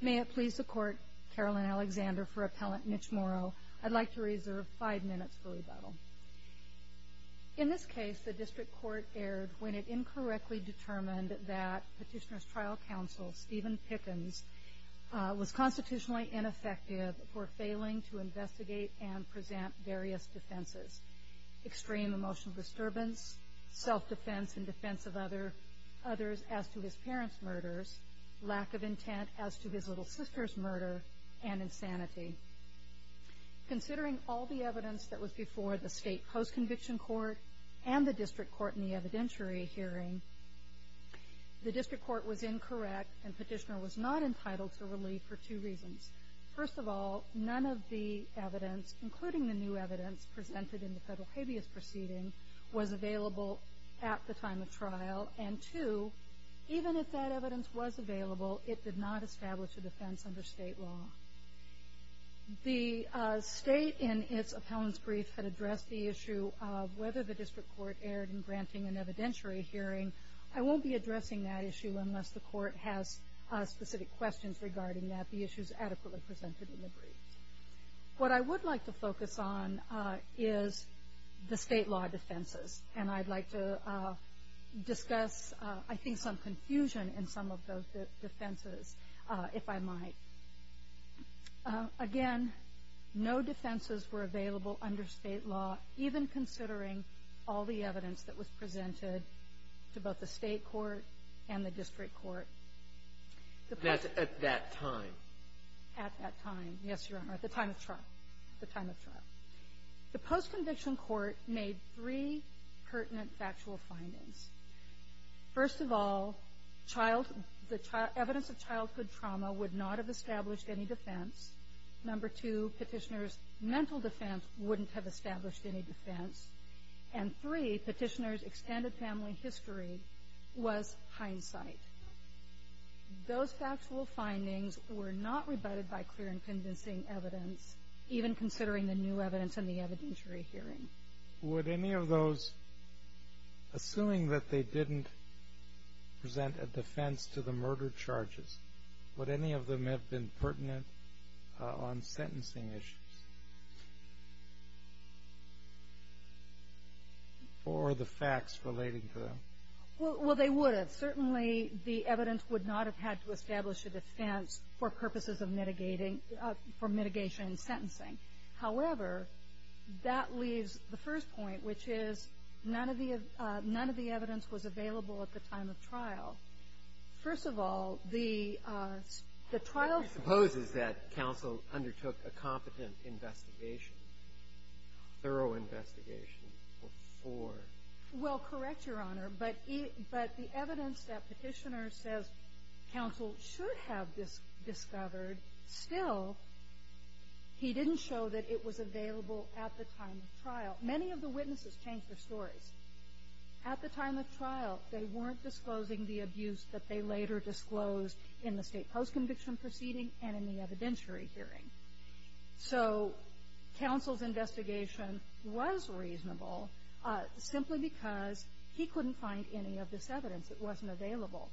May it please the Court, Carolyn Alexander for Appellant Mitch Morrow, I'd like to reserve five minutes for rebuttal. In this case, the District Court erred when it incorrectly determined that Petitioner's Trial Counsel Stephen Pickens was constitutionally ineffective for failing to investigate and present various defenses. Extreme emotional disturbance, self-defense in defense of others as to his parents' murders, lack of intent as to his little sister's murder, and insanity. Considering all the evidence that was before the State Post-Conviction Court and the District Court in the evidentiary hearing, the District Court was incorrect and Petitioner was not entitled to relief for two reasons. First of all, none of the evidence, including the new evidence presented in the Federal Habeas Proceeding, was available at the time of trial. And two, even if that evidence was available, it did not establish a defense under State law. The State, in its appellant's brief, had addressed the issue of whether the District Court erred in granting an evidentiary hearing. I won't be addressing that issue unless the Court has specific questions regarding that. The issue is adequately presented in the brief. What I would like to focus on is the State law defenses, and I'd like to discuss, I think, some confusion in some of those defenses, if I might. Again, no defenses were available under State law, even considering all the evidence that was presented to both the State Court and the District Court. That's at that time. At that time, yes, Your Honor, at the time of trial. The time of trial. The post-conviction court made three pertinent factual findings. First of all, child – the evidence of childhood trauma would not have established any defense. Number two, Petitioner's mental defense wouldn't have established any defense. And three, Petitioner's extended family history was hindsight. Those factual findings were not rebutted by clear and convincing evidence, even considering the new evidence in the evidentiary hearing. Would any of those, assuming that they didn't present a defense to the murder charges, would any of them have been pertinent on sentencing issues or the facts relating to them? Well, they would have. Certainly, the evidence would not have had to establish a defense for purposes of mitigating – for mitigation and sentencing. However, that leaves the first point, which is none of the evidence was available at the time of trial. First of all, the trial – But you suppose that counsel undertook a competent investigation, thorough investigation, before – Well, correct, Your Honor. But the evidence that Petitioner says counsel should have discovered, still, he didn't show that it was available at the time of trial. Many of the witnesses changed their stories. At the time of trial, they weren't disclosing the abuse that they later disclosed in the state post-conviction proceeding and in the evidentiary hearing. So counsel's investigation was reasonable simply because he couldn't find any of this evidence. It wasn't available.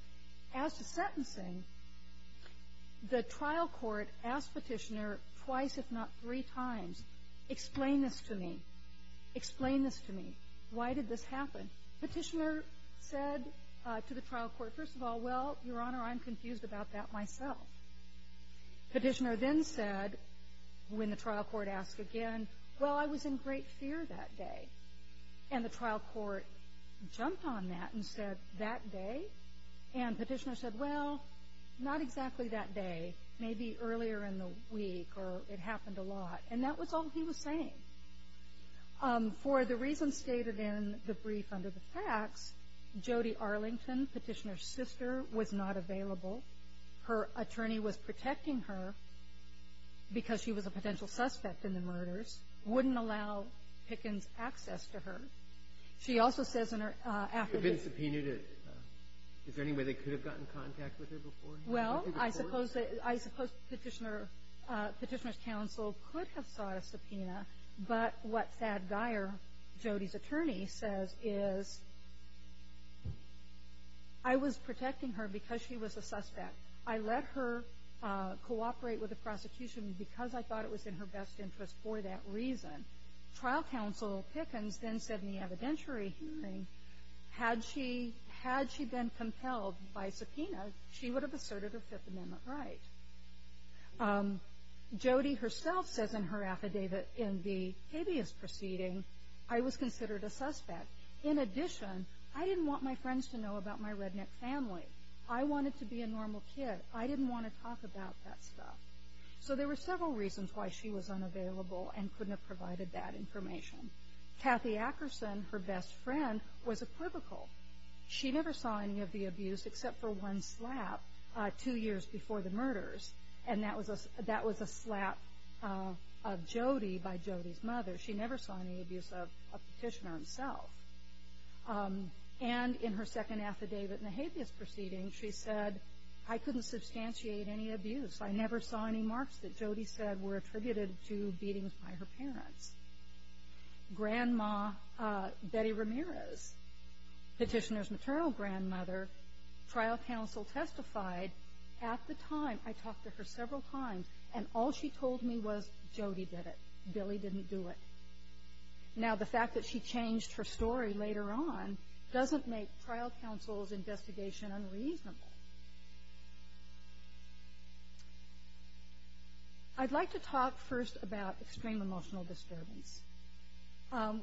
As to sentencing, the trial court asked Petitioner twice, if not three times, explain this to me. Explain this to me. Why did this happen? Petitioner said to the trial court, first of all, well, Your Honor, I'm confused about that myself. Petitioner then said, when the trial court asked again, well, I was in great fear that day. And the trial court jumped on that and said, that day? And Petitioner said, well, not exactly that day. Maybe earlier in the week or it happened a lot. And that was all he was saying. For the reasons stated in the brief under the facts, Jody Arlington, Petitioner's sister, was not available. Her attorney was protecting her because she was a potential suspect in the murders, wouldn't allow Pickens access to her. She also says in her affidavit ---- If it had been subpoenaed, is there any way they could have gotten in contact with her beforehand? Well, I suppose Petitioner's counsel could have sought a subpoena. But what Thad Geyer, Jody's attorney, says is, I was protecting her because she was a suspect. I let her cooperate with the prosecution because I thought it was in her best interest for that reason. Trial counsel Pickens then said in the evidentiary hearing, had she been compelled by subpoena, she would have asserted her Fifth Amendment right. Jody herself says in her affidavit in the habeas proceeding, I was considered a suspect. In addition, I didn't want my friends to know about my redneck family. I wanted to be a normal kid. I didn't want to talk about that stuff. So there were several reasons why she was unavailable and couldn't have provided that information. Kathy Ackerson, her best friend, was equivocal. She never saw any of the abuse except for one slap two years before the murders, and that was a slap of Jody by Jody's mother. She never saw any abuse of Petitioner himself. And in her second affidavit in the habeas proceeding, she said, I couldn't substantiate any abuse. I never saw any marks that Jody said were attributed to beatings by her parents. Grandma Betty Ramirez, Petitioner's maternal grandmother, trial counsel testified at the time. I talked to her several times, and all she told me was Jody did it. Billy didn't do it. Now, the fact that she changed her story later on doesn't make trial counsel's investigation unreasonable. I'd like to talk first about extreme emotional disturbance.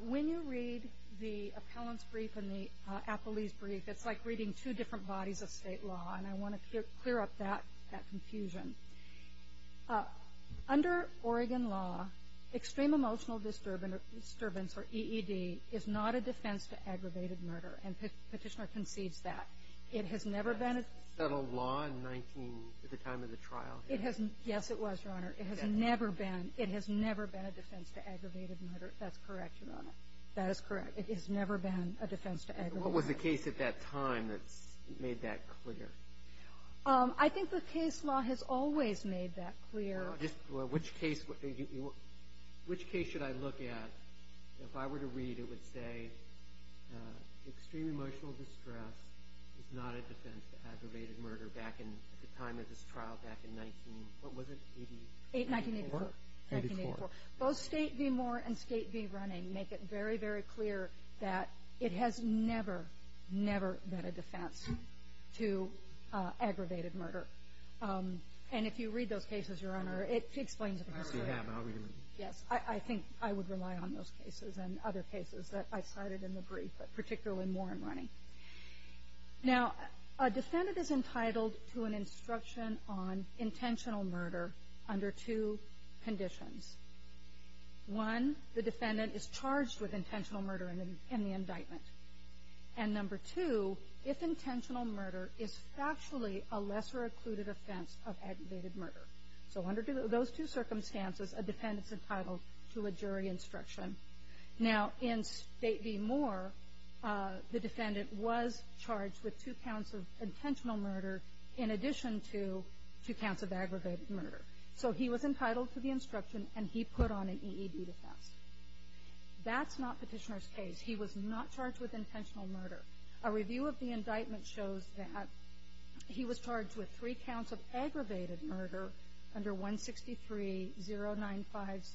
When you read the appellant's brief and the appellee's brief, it's like reading two different bodies of state law, and I want to clear up that confusion. Under Oregon law, extreme emotional disturbance, or EED, is not a defense to aggravated murder, and Petitioner concedes that. It has never been a defense. Was that a law in 19 at the time of the trial? Yes, it was, Your Honor. It has never been. It has never been a defense to aggravated murder. That's correct, Your Honor. That is correct. It has never been a defense to aggravated murder. What was the case at that time that made that clear? I think the case law has always made that clear. Which case should I look at? If I were to read it, it would say extreme emotional distress is not a defense to aggravated murder. Back in the time of this trial, back in 19, what was it? 1984. 1984. Both State v. Moore and State v. Running make it very, very clear that it has never, never been a defense to aggravated murder. And if you read those cases, Your Honor, it explains it. I already have. I'll read them. Yes. I think I would rely on those cases and other cases that I cited in the brief, but particularly Moore and Running. Now, a defendant is entitled to an instruction on intentional murder under two conditions. One, the defendant is charged with intentional murder in the indictment. And number two, if intentional murder is factually a lesser occluded offense of aggravated murder. So under those two circumstances, a defendant's entitled to a jury instruction. Now, in State v. Moore, the defendant was charged with two counts of intentional murder in addition to two counts of aggravated murder. So he was entitled to the instruction, and he put on an EED defense. That's not Petitioner's case. He was not charged with intentional murder. A review of the indictment shows that he was charged with three counts of aggravated murder under 163-095,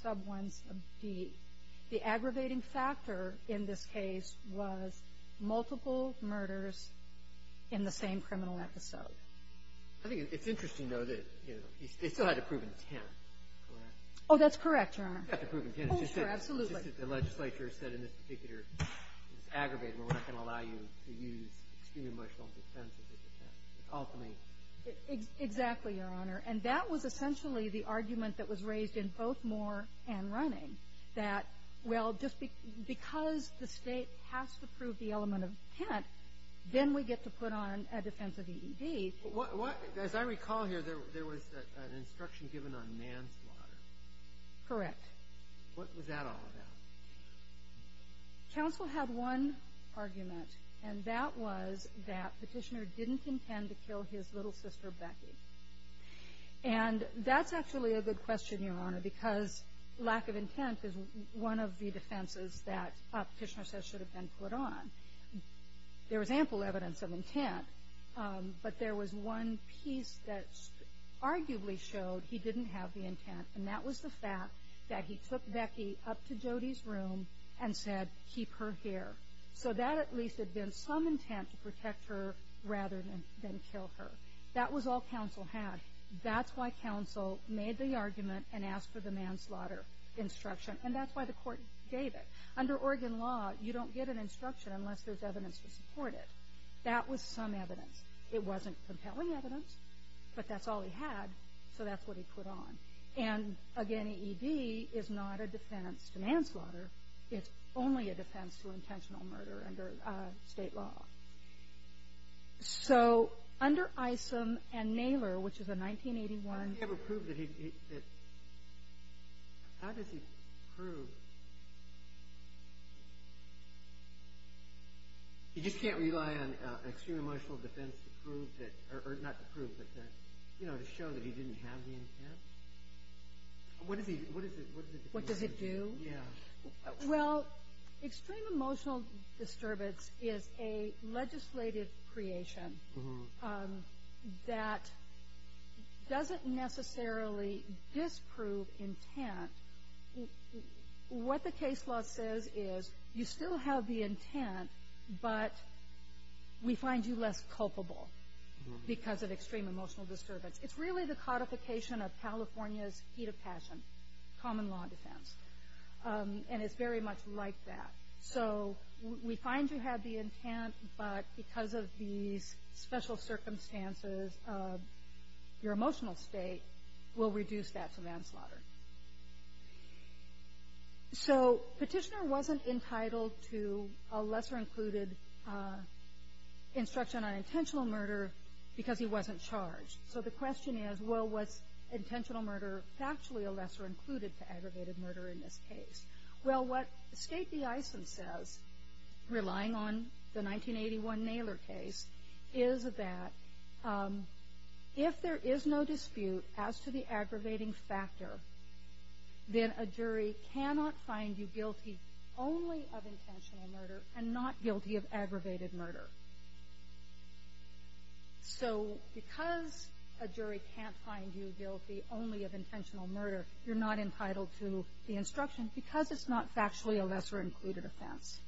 sub ones of D. The aggravating factor in this case was multiple murders in the same criminal episode. I think it's interesting, though, that, you know, they still had to prove intent, correct? Oh, that's correct, Your Honor. They had to prove intent. Oh, sure. Absolutely. The legislature said in this particular aggravated murder, we're not going to allow you to use extreme emotional defense of intent. It's alchemy. Exactly, Your Honor. And that was essentially the argument that was raised in both Moore and Running, that, well, just because the State has to prove the element of intent, then we get to put on a defense of EED. As I recall here, there was an instruction given on manslaughter. Correct. What was that all about? Counsel had one argument, and that was that Petitioner didn't intend to kill his little sister, Becky. And that's actually a good question, Your Honor, because lack of intent is one of the defenses that Petitioner says should have been put on. There was ample evidence of intent, but there was one piece that arguably showed he didn't have the intent, and that was the fact that he took Becky up to Jody's room and said, keep her here. So that at least had been some intent to protect her rather than kill her. That was all counsel had. That's why counsel made the argument and asked for the manslaughter instruction, and that's why the court gave it. Under Oregon law, you don't get an instruction unless there's evidence to support it. That was some evidence. It wasn't compelling evidence, but that's all he had, so that's what he put on. And again, EED is not a defense to manslaughter. It's only a defense to intentional murder under state law. So under Isom and Naylor, which is a 1981- How does he prove that he- how does he prove- He just can't rely on extreme emotional defense to prove that- or not to prove, but to show that he didn't have the intent? What does he- what does it- What does it do? Yeah. Well, extreme emotional disturbance is a legislative creation that doesn't necessarily disprove intent. What the case law says is you still have the intent, but we find you less culpable because of extreme emotional disturbance. It's really the codification of California's heat of passion, common law defense, and it's very much like that. So we find you have the intent, but because of these special circumstances, your emotional state will reduce that to manslaughter. So Petitioner wasn't entitled to a lesser-included instruction on intentional murder because he wasn't charged. So the question is, well, was intentional murder factually a lesser included to aggravated murder in this case? Well, what State v. Eisen says, relying on the 1981 Naylor case, is that if there is no dispute as to the aggravating factor, then a jury cannot find you guilty only of intentional murder and not guilty of aggravated murder. So because a jury can't find you guilty only of intentional murder, you're not entitled to the instruction because it's not factually a lesser-included offense.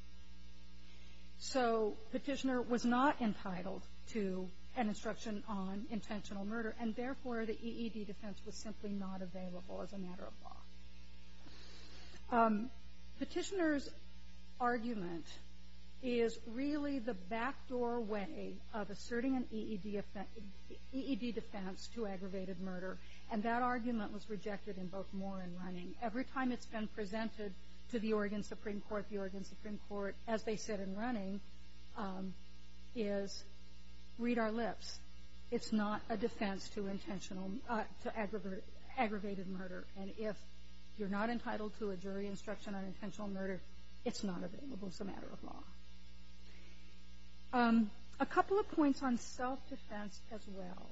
So Petitioner was not entitled to an instruction on intentional murder, and therefore the EED defense was simply not available as a matter of law. Petitioner's argument is really the backdoor way of asserting an EED defense to aggravated murder, and that argument was rejected in both Moore and Running. Every time it's been presented to the Oregon Supreme Court, the Oregon Supreme Court, as they said in Running, is, read our lips, it's not a defense to aggravated murder. And if you're not entitled to a jury instruction on intentional murder, it's not available as a matter of law. A couple of points on self-defense as well.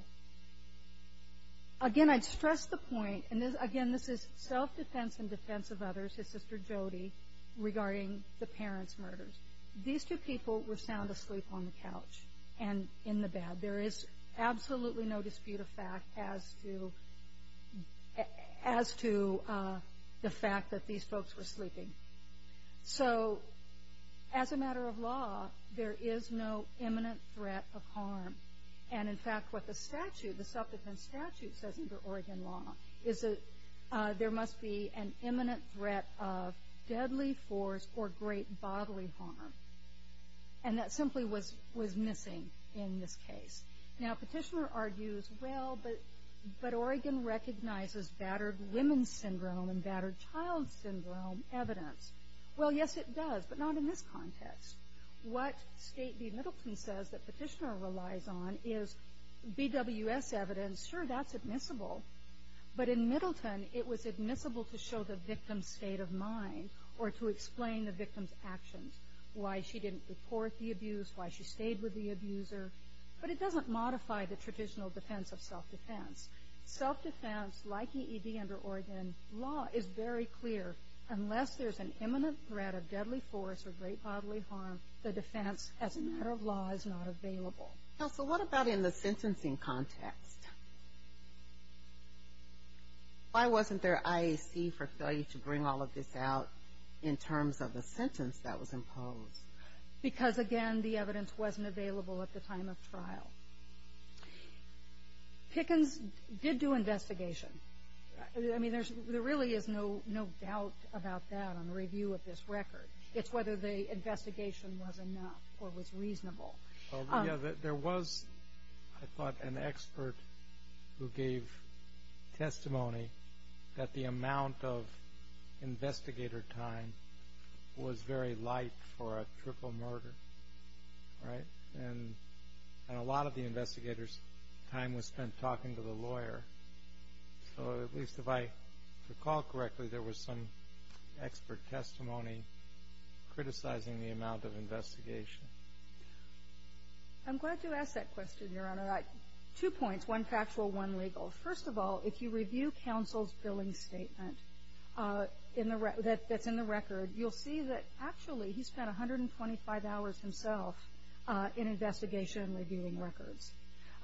Again, I'd stress the point, and again, this is self-defense in defense of others, his sister Jody, regarding the parents' murders. These two people were sound asleep on the couch and in the bed. There is absolutely no dispute of fact as to the fact that these folks were sleeping. So as a matter of law, there is no imminent threat of harm. And in fact, what the statute, the self-defense statute says under Oregon law, is that there must be an imminent threat of deadly force or great bodily harm. And that simply was missing in this case. Now, Petitioner argues, well, but Oregon recognizes battered women's syndrome and battered child syndrome evidence. Well, yes, it does, but not in this context. What State v. Middleton says that Petitioner relies on is BWS evidence. Sure, that's admissible. But in Middleton, it was admissible to show the victim's state of mind or to explain the victim's actions, why she didn't report the abuse, why she stayed with the abuser. But it doesn't modify the traditional defense of self-defense. Self-defense, like EED under Oregon, law is very clear. Unless there's an imminent threat of deadly force or great bodily harm, the defense as a matter of law is not available. Now, so what about in the sentencing context? Why wasn't there IAC for failure to bring all of this out in terms of the sentence that was imposed? Because, again, the evidence wasn't available at the time of trial. Pickens did do investigation. I mean, there really is no doubt about that on review of this record. It's whether the investigation was enough or was reasonable. There was, I thought, an expert who gave testimony that the amount of investigator time was very light for a triple murder, right? And a lot of the investigator's time was spent talking to the lawyer. So at least if I recall correctly, there was some expert testimony criticizing the amount of investigation. I'm glad you asked that question, Your Honor. Two points, one factual, one legal. First of all, if you review counsel's billing statement that's in the record, you'll see that actually he spent 125 hours himself in investigation reviewing records.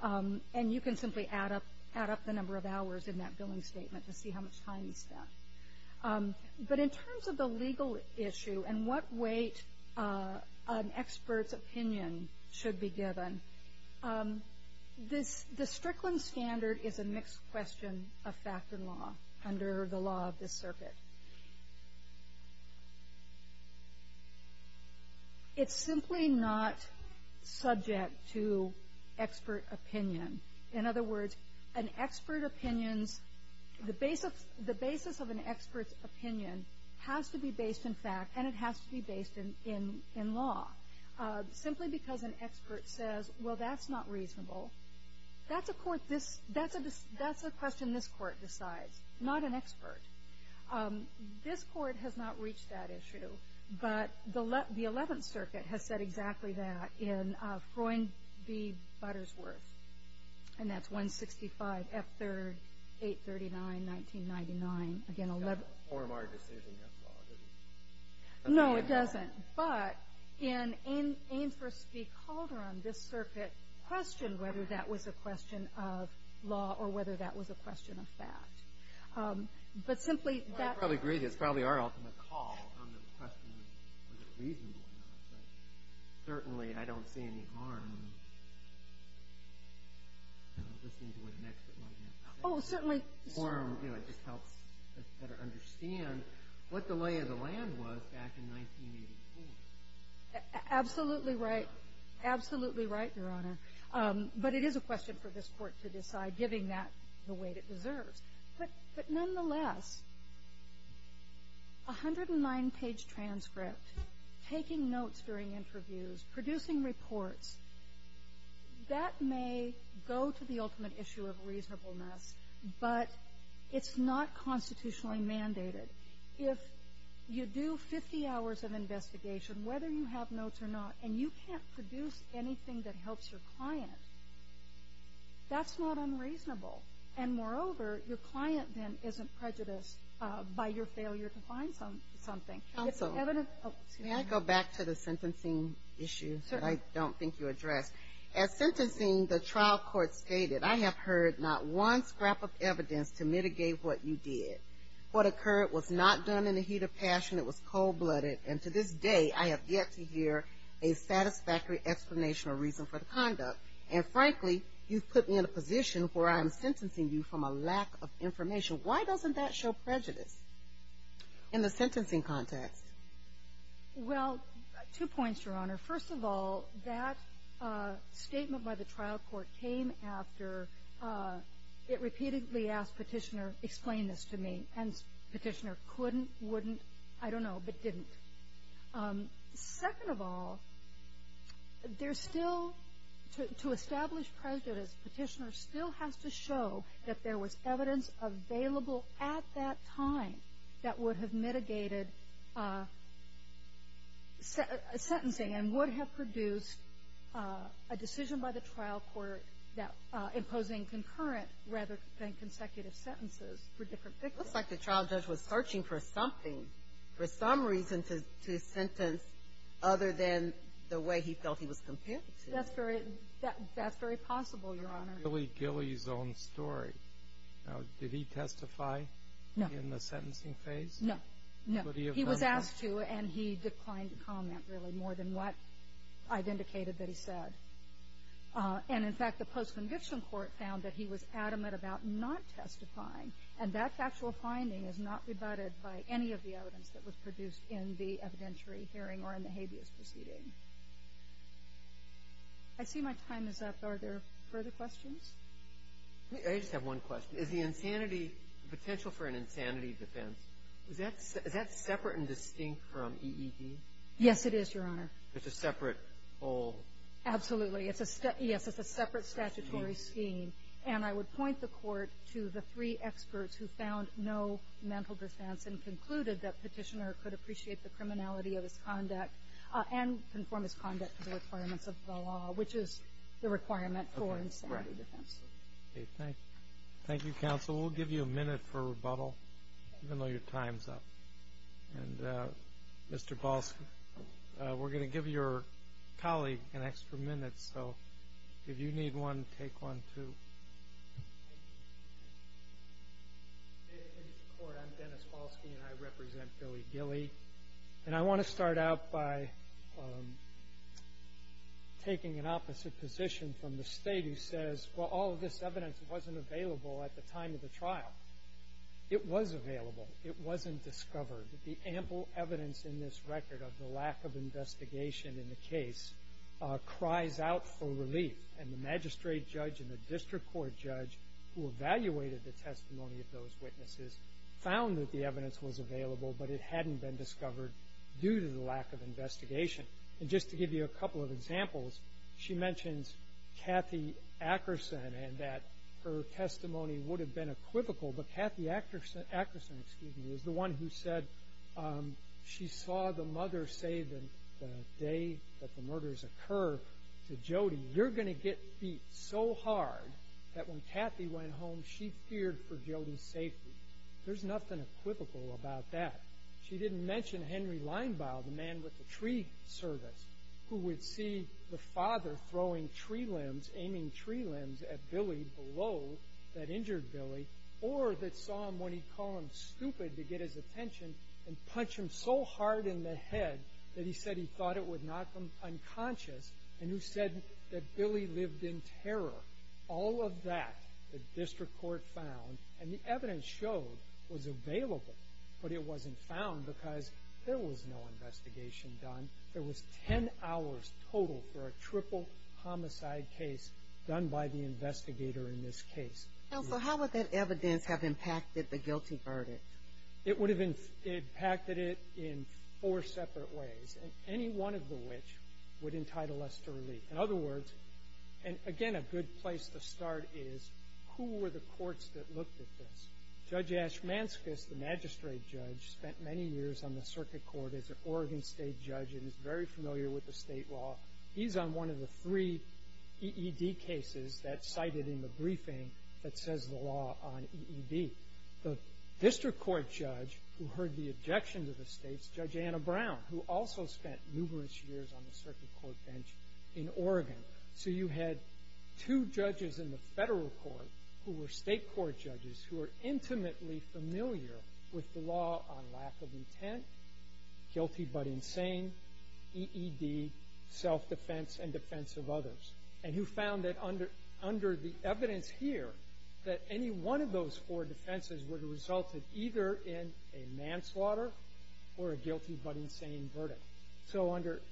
And you can simply add up the number of hours in that billing statement to see how much time he spent. But in terms of the legal issue and what weight an expert's opinion should be given, the Strickland standard is a mixed question of fact and law under the law of this circuit. It's simply not subject to expert opinion. In other words, an expert opinion's, the basis of an expert's opinion has to be based in fact and it has to be based in law. Simply because an expert says, well, that's not reasonable. That's a court, that's a question this court decides, not an expert. This court has not reached that issue. But the Eleventh Circuit has said exactly that in Freund v. Buttersworth. And that's 165 F. 3rd, 839, 1999. It doesn't form our decision as law, does it? No, it doesn't. But in Ames v. Calderon, this circuit questioned whether that was a question of law or whether that was a question of fact. But simply that... I probably agree that it's probably our ultimate call on the question of whether it's reasonable or not. But certainly I don't see any harm in listening to what an expert might have to say. Oh, certainly. It just helps us better understand what the lay of the land was back in 1984. Absolutely right. Absolutely right, Your Honor. But it is a question for this court to decide, giving that the weight it deserves. But nonetheless, a 109-page transcript, taking notes during interviews, producing reports, that may go to the ultimate issue of reasonableness, but it's not constitutionally mandated. If you do 50 hours of investigation, whether you have notes or not, and you can't produce anything that helps your client, that's not unreasonable. And moreover, your client, then, isn't prejudiced by your failure to find something. It's evident... May I go back to the sentencing issue that I don't think you addressed? As sentencing, the trial court stated, I have heard not one scrap of evidence to mitigate what you did. What occurred was not done in the heat of passion. It was cold-blooded. And to this day, I have yet to hear a satisfactory explanation or reason for the conduct. And frankly, you've put me in a position where I'm sentencing you from a lack of information. Why doesn't that show prejudice in the sentencing context? Well, two points, Your Honor. First of all, that statement by the trial court came after it repeatedly asked Petitioner, explain this to me. And Petitioner couldn't, wouldn't, I don't know, but didn't. Second of all, there's still to establish prejudice, Petitioner still has to show that there was evidence available at that time that would have mitigated sentencing and would have produced a decision by the trial court imposing concurrent rather than consecutive sentences for different victims. It looks like the trial judge was searching for something, for some reason to sentence other than the way he felt he was compared to. That's very possible, Your Honor. It's really Gilley's own story. Did he testify in the sentencing phase? No, no. He was asked to, and he declined to comment, really, more than what I've indicated that he said. And, in fact, the post-conviction court found that he was adamant about not testifying, and that factual finding is not rebutted by any of the evidence that was produced in the evidentiary hearing or in the habeas proceeding. I see my time is up. Are there further questions? I just have one question. Is the insanity, the potential for an insanity defense, is that separate and distinct from EED? Yes, it is, Your Honor. It's a separate whole? Absolutely. Yes, it's a separate statutory scheme. And I would point the court to the three experts who found no mental defense and concluded that Petitioner could appreciate the criminality of his conduct and conform his conduct to the requirements of the law, which is the requirement for insanity defense. Okay. Thank you. Thank you, counsel. We'll give you a minute for rebuttal, even though your time is up. And, Mr. Balski, we're going to give your colleague an extra minute, so if you need one, take one, too. Mr. Court, I'm Dennis Balski, and I represent Billy Gilley. And I want to start out by taking an opposite position from the state who says, well, all of this evidence wasn't available at the time of the trial. It was available. It wasn't discovered. The ample evidence in this record of the lack of investigation in the case cries out for relief, and the magistrate judge and the district court judge who evaluated the testimony of those witnesses found that the evidence was available, but it hadn't been discovered due to the lack of investigation. And just to give you a couple of examples, she mentions Kathy Akerson and that her testimony would have been equivocal, but Kathy Akerson is the one who said she saw the mother say the day that the murders occur to Jody, you're going to get beat so hard that when Kathy went home, she feared for Jody's safety. There's nothing equivocal about that. She didn't mention Henry Leinbaugh, the man with the tree service, who would see the father throwing tree limbs, aiming tree limbs at Billy below that injured Billy, or that saw him when he'd call him stupid to get his attention and punch him so hard in the head that he said he thought it would knock him unconscious, and who said that Billy lived in terror. All of that the district court found and the evidence showed was available, but it wasn't found because there was no investigation done. There was 10 hours total for a triple homicide case done by the investigator in this case. Counsel, how would that evidence have impacted the guilty verdict? It would have impacted it in four separate ways, and any one of the which would entitle us to relief. In other words, and again, a good place to start is who were the courts that looked at this? Judge Ashmanskas, the magistrate judge, spent many years on the circuit court as an Oregon state judge and is very familiar with the state law. He's on one of the three EED cases that's cited in the briefing that says the law on EED. The district court judge who heard the objection to the states, Judge Anna Brown, who also spent numerous years on the circuit court bench in Oregon. So you had two judges in the federal court who were state court judges who were intimately familiar with the law on lack of intent, guilty but insane, EED, self-defense, and defense of others, and who found that under the evidence here, that any one of those four defenses would have resulted either in a manslaughter or a guilty but insane verdict. So under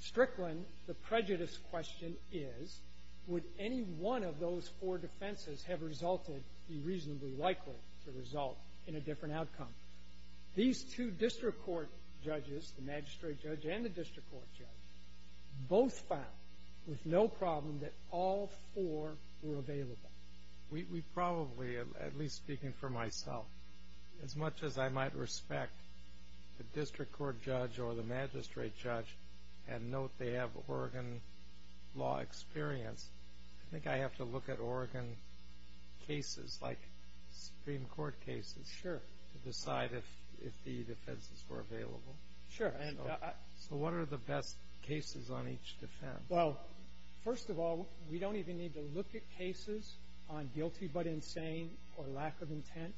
Strickland, the prejudice question is, would any one of those four defenses have resulted be reasonably likely to result in a different outcome? These two district court judges, the magistrate judge and the district court judge, both found with no problem that all four were available. We probably, at least speaking for myself, as much as I might respect the district court judge or the magistrate judge and note they have Oregon law experience, I think I have to look at Oregon cases like Supreme Court cases to decide if the defenses were available. Sure. So what are the best cases on each defense? Well, first of all, we don't even need to look at cases on guilty but insane or lack of intent.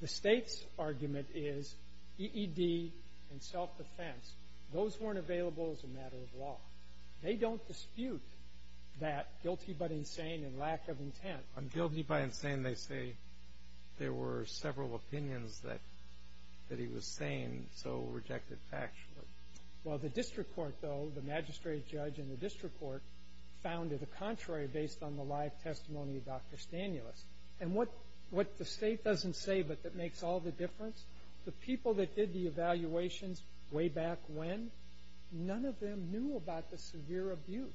The State's argument is EED and self-defense, those weren't available as a matter of law. They don't dispute that guilty but insane and lack of intent. On guilty but insane, they say there were several opinions that he was saying so rejected factually. Well, the district court, though, the magistrate judge and the district court, found to the contrary based on the live testimony of Dr. Stanulis. And what the State doesn't say but that makes all the difference, the people that did the evaluations way back when, none of them knew about the severe abuse.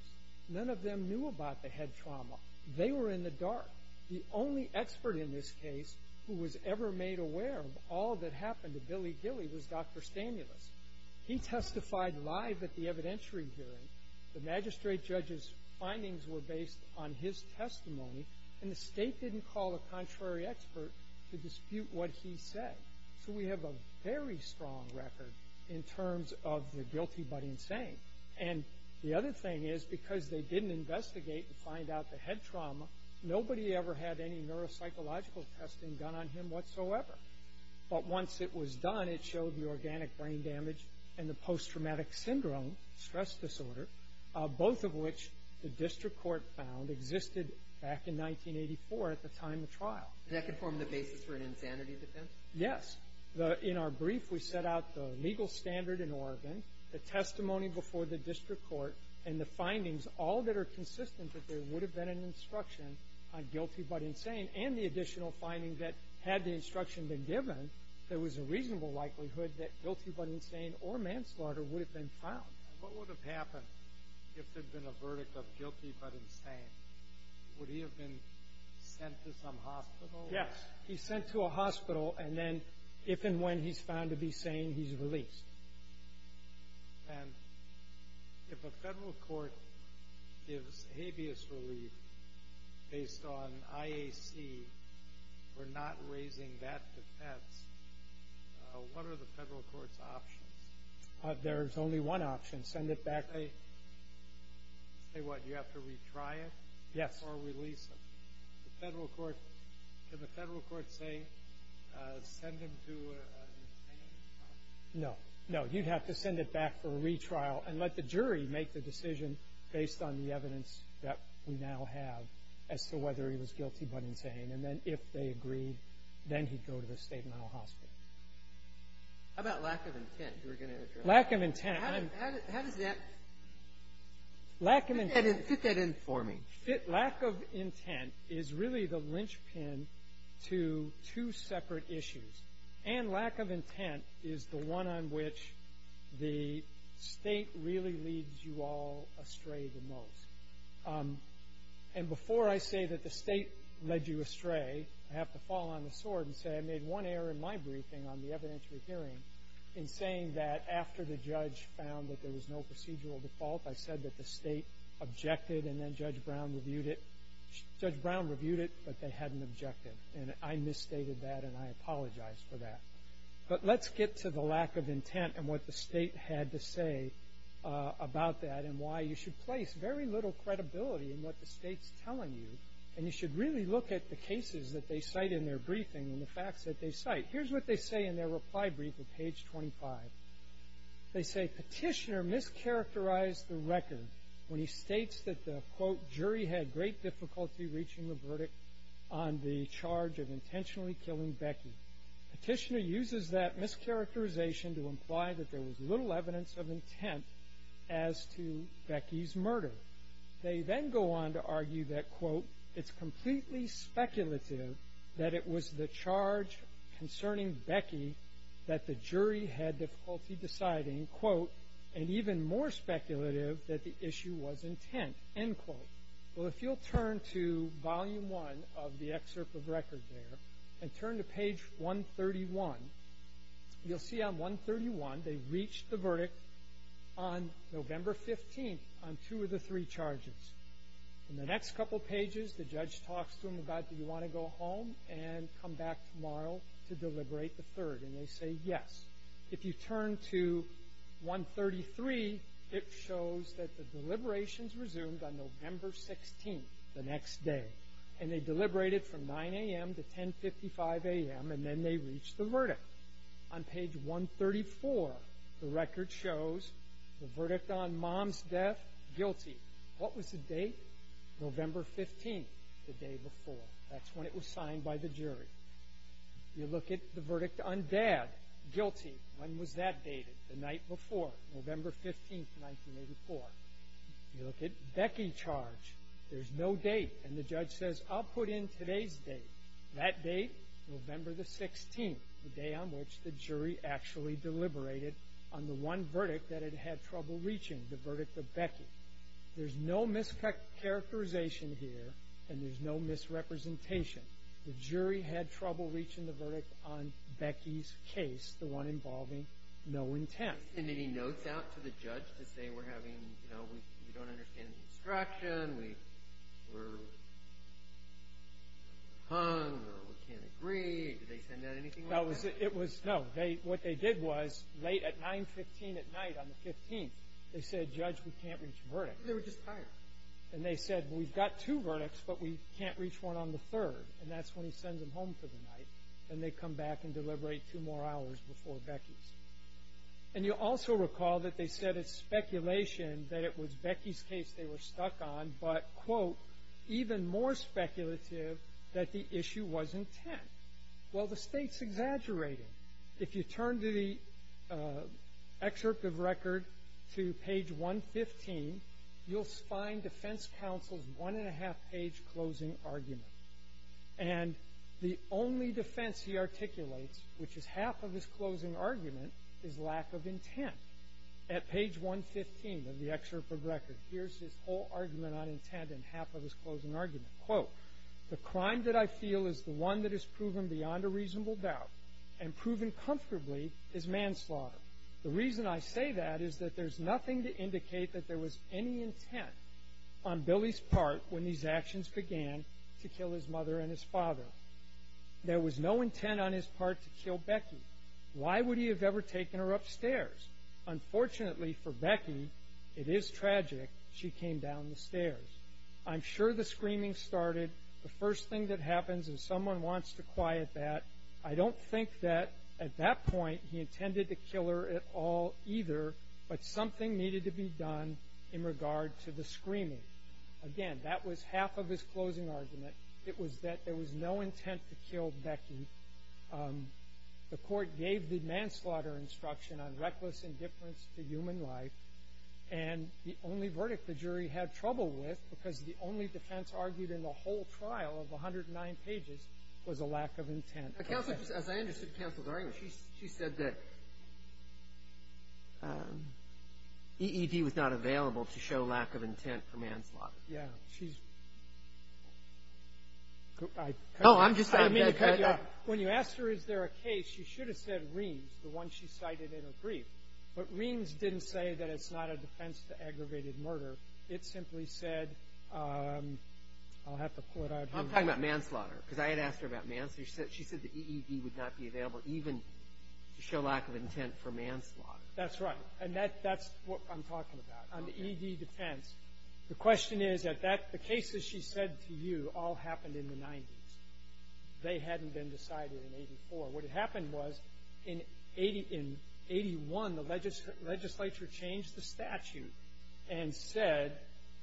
None of them knew about the head trauma. They were in the dark. The only expert in this case who was ever made aware of all that happened to Billy Gilly was Dr. Stanulis. He testified live at the evidentiary hearing. The magistrate judge's findings were based on his testimony, and the State didn't call a contrary expert to dispute what he said. So we have a very strong record in terms of the guilty but insane. And the other thing is because they didn't investigate and find out the head trauma, nobody ever had any neuropsychological testing done on him whatsoever. But once it was done, it showed the organic brain damage and the post-traumatic syndrome, stress disorder, both of which the district court found existed back in 1984 at the time of trial. And that could form the basis for an insanity defense? Yes. In our brief, we set out the legal standard in Oregon, the testimony before the district court, and the findings, all that are consistent that there would have been an instruction on guilty but insane, and the additional finding that had the instruction been given, there was a reasonable likelihood that guilty but insane or manslaughter would have been found. What would have happened if there had been a verdict of guilty but insane? Would he have been sent to some hospital? Yes. He's sent to a hospital, and then if and when he's found to be sane, he's released. And if a federal court gives habeas relief based on IAC for not raising that defense, what are the federal court's options? There is only one option, send it back. Say what? Do you have to retry it? Yes. Or release him? The federal court, can the federal court say send him to an insane hospital? No. No, you'd have to send it back for a retrial and let the jury make the decision based on the evidence that we now have as to whether he was guilty but insane. And then if they agreed, then he'd go to the state mental hospital. How about lack of intent? You were going to address that. Lack of intent. How does that fit that in for me? Lack of intent is really the linchpin to two separate issues, and lack of intent is the one on which the state really leads you all astray the most. And before I say that the state led you astray, I have to fall on the sword and say I made one error in my briefing on the evidentiary hearing in saying that after the judge found that there was no procedural default, I said that the state objected and then Judge Brown reviewed it, but they hadn't objected, and I misstated that and I apologize for that. But let's get to the lack of intent and what the state had to say about that and why you should place very little credibility in what the state's telling you, and you should really look at the cases that they cite in their briefing and the facts that they cite. Here's what they say in their reply brief at page 25. They say Petitioner mischaracterized the record when he states that the, quote, jury had great difficulty reaching a verdict on the charge of intentionally killing Becky. Petitioner uses that mischaracterization to imply that there was little evidence of intent as to Becky's murder. They then go on to argue that, quote, it's completely speculative that it was the charge concerning Becky that the jury had difficulty deciding, quote, and even more speculative that the issue was intent, end quote. Well, if you'll turn to volume one of the excerpt of record there and turn to page 131, you'll see on 131 they reached the verdict on November 15th on two of the three charges. In the next couple pages, the judge talks to him about, do you want to go home and come back tomorrow to deliberate the third? And they say yes. If you turn to 133, it shows that the deliberations resumed on November 16th, the next day, and they deliberated from 9 a.m. to 1055 a.m., and then they reached the verdict. On page 134, the record shows the verdict on mom's death, guilty. What was the date? November 15th, the day before. That's when it was signed by the jury. You look at the verdict on dad, guilty. When was that dated? The night before, November 15th, 1984. You look at Becky charge. There's no date. And the judge says, I'll put in today's date. That date, November the 16th, the day on which the jury actually deliberated on the one verdict that it had trouble reaching, the verdict of Becky. There's no mischaracterization here, and there's no misrepresentation. The jury had trouble reaching the verdict on Becky's case, the one involving no intent. Did they send any notes out to the judge to say we're having, you know, we don't understand the instruction, we're hung, or we can't agree? Did they send out anything like that? No. What they did was, late at 915 at night on the 15th, they said, judge, we can't reach a verdict. They were just tired. And they said, well, we've got two verdicts, but we can't reach one on the third. And that's when he sends them home for the night, and they come back and deliberate two more hours before Becky's. And you'll also recall that they said it's speculation that it was Becky's case they were stuck on, but, quote, even more speculative that the issue was intent. Well, the state's exaggerating. If you turn to the excerpt of record to page 115, you'll find defense counsel's one-and-a-half-page closing argument. And the only defense he articulates, which is half of his closing argument, is lack of intent. At page 115 of the excerpt of record, here's his whole argument on intent and half of his closing argument. Quote, the crime that I feel is the one that is proven beyond a reasonable doubt and proven comfortably is manslaughter. The reason I say that is that there's nothing to indicate that there was any intent on Billy's part when these actions began to kill his mother and his father. There was no intent on his part to kill Becky. Why would he have ever taken her upstairs? Unfortunately for Becky, it is tragic she came down the stairs. I'm sure the screaming started. The first thing that happens is someone wants to quiet that. I don't think that at that point he intended to kill her at all either, but something needed to be done in regard to the screaming. Again, that was half of his closing argument. It was that there was no intent to kill Becky. The court gave the manslaughter instruction on reckless indifference to human life. And the only verdict the jury had trouble with, because the only defense argued in the whole trial of 109 pages was a lack of intent. Counsel, as I understood counsel's argument, she said that EED was not available to show lack of intent for manslaughter. Yeah. She's – oh, I'm just – When you asked her is there a case, she should have said Reams, the one she cited in her brief. But Reams didn't say that it's not a defense to aggravated murder. It simply said – I'll have to pull it out here. I'm talking about manslaughter because I had asked her about manslaughter. She said the EED would not be available even to show lack of intent for manslaughter. That's right. And that's what I'm talking about on the EED defense. The question is that the cases she said to you all happened in the 90s. They hadn't been decided in 84. What had happened was in 81 the legislature changed the statute and said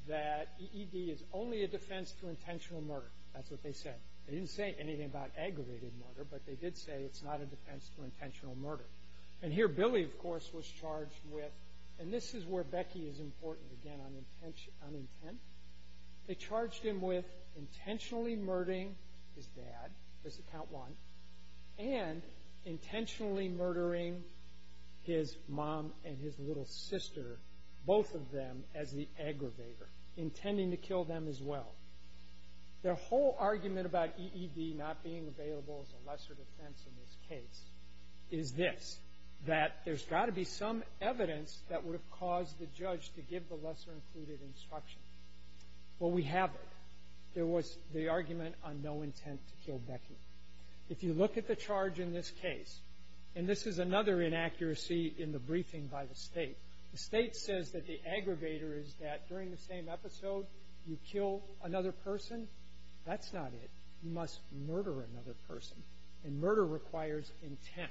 that EED is only a defense to intentional murder. That's what they said. They didn't say anything about aggravated murder, but they did say it's not a defense to intentional murder. And here Billy, of course, was charged with – and this is where Becky is important, again, on intent. They charged him with intentionally murdering his dad. This is count one. And intentionally murdering his mom and his little sister, both of them, as the aggravator, intending to kill them as well. Their whole argument about EED not being available as a lesser defense in this case is this, that there's got to be some evidence that would have caused the judge to give the lesser included instruction. Well, we have it. There was the argument on no intent to kill Becky. If you look at the charge in this case – and this is another inaccuracy in the briefing by the State – the State says that the aggravator is that during the same episode you kill another person. That's not it. You must murder another person. And murder requires intent.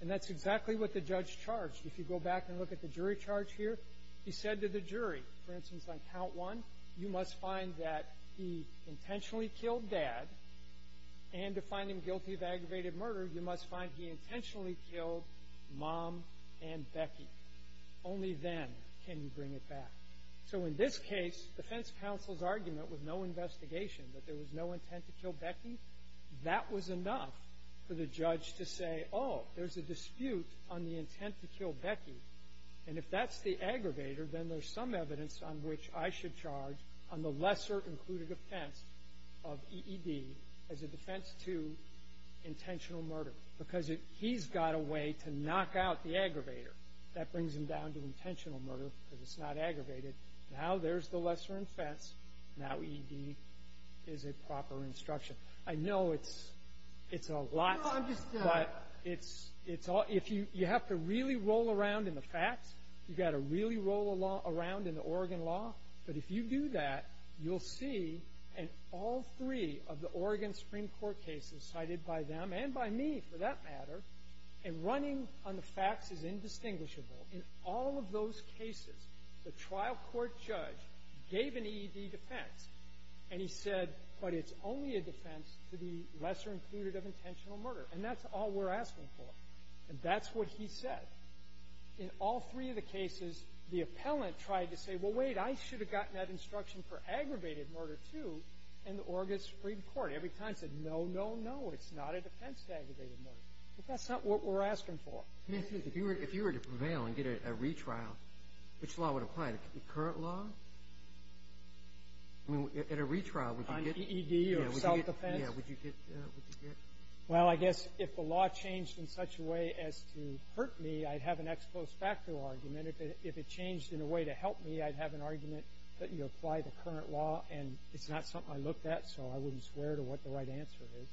And that's exactly what the judge charged. If you go back and look at the jury charge here, he said to the jury, for instance, on count one, you must find that he intentionally killed dad, and to find him guilty of aggravated murder, you must find he intentionally killed mom and Becky. Only then can you bring it back. So in this case, defense counsel's argument with no investigation, that there was no intent to kill Becky, that was enough for the judge to say, oh, there's a dispute on the intent to kill Becky. And if that's the aggravator, then there's some evidence on which I should charge on the lesser included offense of EED as a defense to intentional murder. Because he's got a way to knock out the aggravator. That brings him down to intentional murder because it's not aggravated. Now there's the lesser offense. Now EED is a proper instruction. I know it's a lot. No, I'm just – You have to really roll around in the facts. You've got to really roll around in the Oregon law. But if you do that, you'll see in all three of the Oregon Supreme Court cases cited by them and by me, for that matter, and running on the facts is indistinguishable. In all of those cases, the trial court judge gave an EED defense, and he said, but it's only a defense to the lesser included of intentional murder. And that's all we're asking for. And that's what he said. In all three of the cases, the appellant tried to say, well, wait, I should have gotten that instruction for aggravated murder, too, in the Oregon Supreme Court. Every time he said, no, no, no, it's not a defense to aggravated murder. But that's not what we're asking for. If you were to prevail and get a retrial, which law would apply? The current law? At a retrial, would you get – On EED or self-defense? Yeah, would you get – Well, I guess if the law changed in such a way as to hurt me, I'd have an ex post facto argument. If it changed in a way to help me, I'd have an argument that you apply the current law. And it's not something I looked at, so I wouldn't swear to what the right answer is.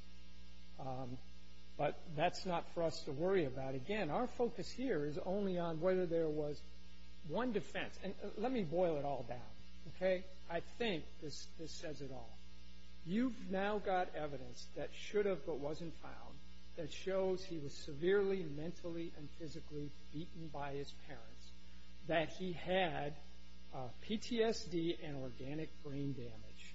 But that's not for us to worry about. Again, our focus here is only on whether there was one defense. And let me boil it all down, okay? I think this says it all. You've now got evidence that should have but wasn't found that shows he was severely mentally and physically beaten by his parents, that he had PTSD and organic brain damage.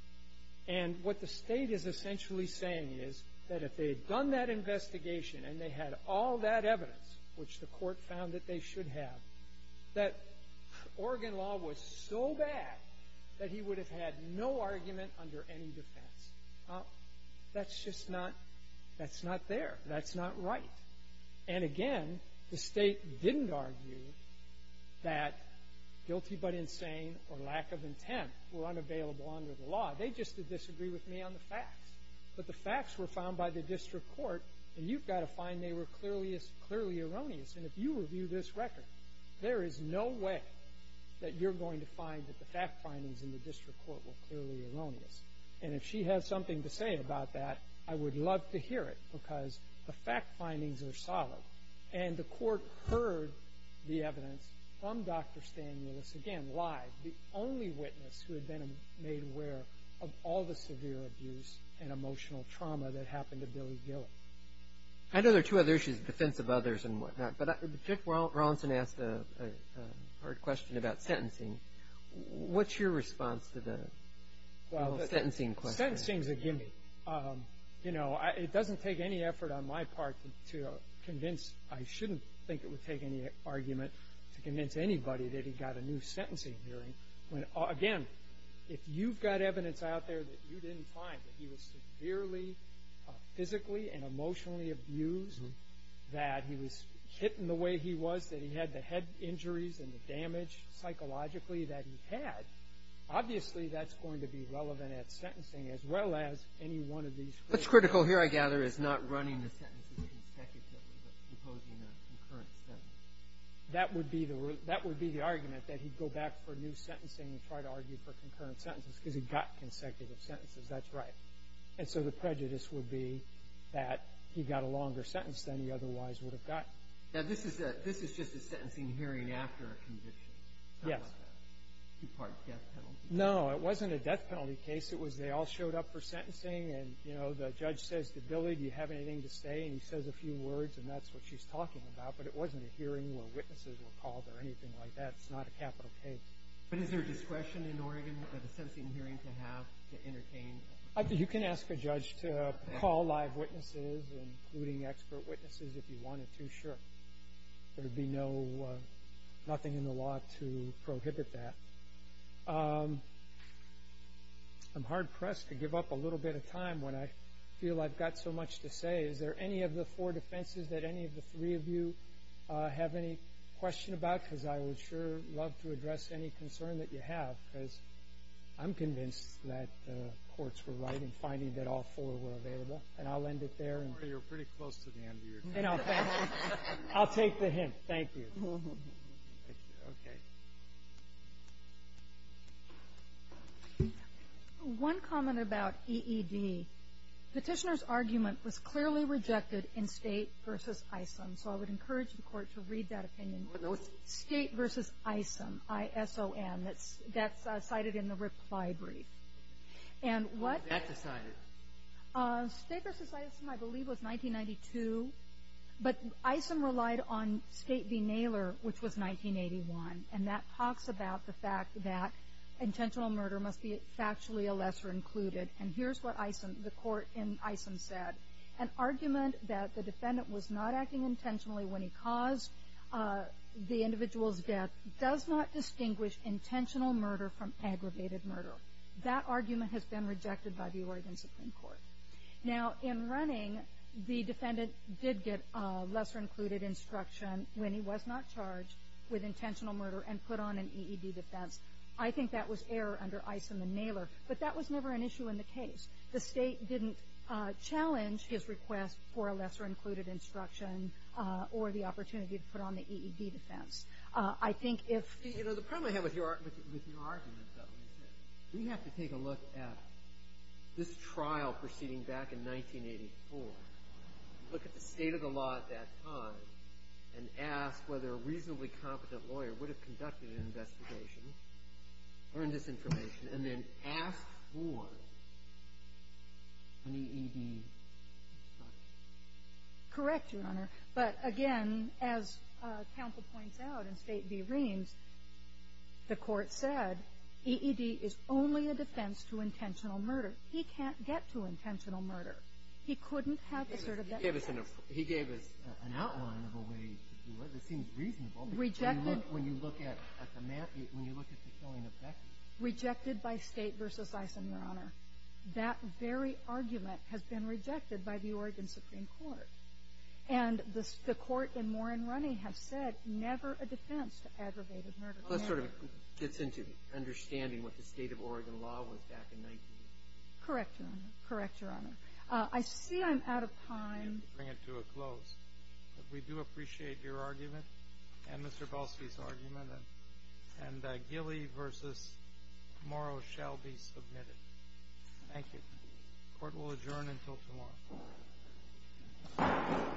And what the state is essentially saying is that if they had done that investigation and they had all that evidence, which the court found that they should have, that Oregon law was so bad that he would have had no argument under any defense. Well, that's just not – that's not there. That's not right. And again, the state didn't argue that guilty but insane or lack of intent were unavailable under the law. They just did disagree with me on the facts. But the facts were found by the district court, and you've got to find they were clearly erroneous. And if you review this record, there is no way that you're going to find that the fact findings in the district court were clearly erroneous. And if she has something to say about that, I would love to hear it because the fact findings are solid. And the court heard the evidence from Dr. Stanielis, again, live, the only witness who had been made aware of all the severe abuse and emotional trauma that happened to Billy Gilley. I know there are two other issues in defense of others and whatnot, but Jeff Rawlinson asked a hard question about sentencing. What's your response to the sentencing question? Well, sentencing is a gimme. You know, it doesn't take any effort on my part to convince – I shouldn't think it would take any argument to convince anybody that he got a new sentencing hearing. Again, if you've got evidence out there that you didn't find that he was severely physically and emotionally abused, that he was hit in the way he was, that he had the head injuries and the damage psychologically that he had, obviously that's going to be relevant at sentencing as well as any one of these. What's critical here, I gather, is not running the sentences consecutively but proposing a concurrent sentence. That would be the argument, that he'd go back for new sentencing and try to argue for concurrent sentences because he got consecutive sentences. That's right. And so the prejudice would be that he got a longer sentence than he otherwise would have gotten. Now, this is just a sentencing hearing after a conviction. Yes. Two-part death penalty. No, it wasn't a death penalty case. It was they all showed up for sentencing and, you know, the judge says to Billy, do you have anything to say? And he says a few words and that's what she's talking about, but it wasn't a hearing where witnesses were called or anything like that. It's not a capital case. But is there discretion in Oregon for the sentencing hearing to have to entertain? You can ask a judge to call live witnesses, including expert witnesses, if you wanted to, sure. There would be nothing in the law to prohibit that. I'm hard-pressed to give up a little bit of time when I feel I've got so much to say. Is there any of the four defenses that any of the three of you have any question about? Because I would sure love to address any concern that you have because I'm convinced that the courts were right in finding that all four were available. And I'll end it there. You're pretty close to the end of your time. I'll take the hint. Thank you. Okay. One comment about EED. Petitioner's argument was clearly rejected in State v. Iceland, so I would encourage the Court to read that opinion. What note? State v. Iceland, I-S-O-N. That's cited in the reply brief. When was that decided? State v. Iceland, I believe, was 1992. But Iceland relied on State v. Naylor, which was 1981. And that talks about the fact that intentional murder must be factually a lesser included. And here's what the Court in Iceland said. An argument that the defendant was not acting intentionally when he caused the individual's death does not distinguish intentional murder from aggravated murder. That argument has been rejected by the Oregon Supreme Court. Now, in running, the defendant did get lesser included instruction when he was not charged with intentional murder and put on an EED defense. I think that was error under Iceland and Naylor. But that was never an issue in the case. The State didn't challenge his request for a lesser included instruction or the opportunity to put on the EED defense. I think if- See, you know, the problem I have with your argument, though, is that we have to take a look at this trial proceeding back in 1984, look at the state of the law at that time, and ask whether a reasonably competent lawyer would have conducted an investigation, earned this information, and then asked for an EED instruction. Correct, Your Honor. But again, as counsel points out in State v. Reams, the Court said EED is only a defense to intentional murder. He can't get to intentional murder. He couldn't have asserted that- He gave us an outline of a way to do it. It seems reasonable. Rejected- When you look at the killing of Becky- Rejected by State v. Eisen, Your Honor. That very argument has been rejected by the Oregon Supreme Court. And the Court in Moran Runny has said never a defense to aggravated murder. Well, that sort of gets into understanding what the state of Oregon law was back in 1980. Correct, Your Honor. Correct, Your Honor. I see I'm out of time. You have to bring it to a close. We do appreciate your argument and Mr. Belsky's argument. And Gilly v. Morrow shall be submitted. Thank you. Court will adjourn until tomorrow.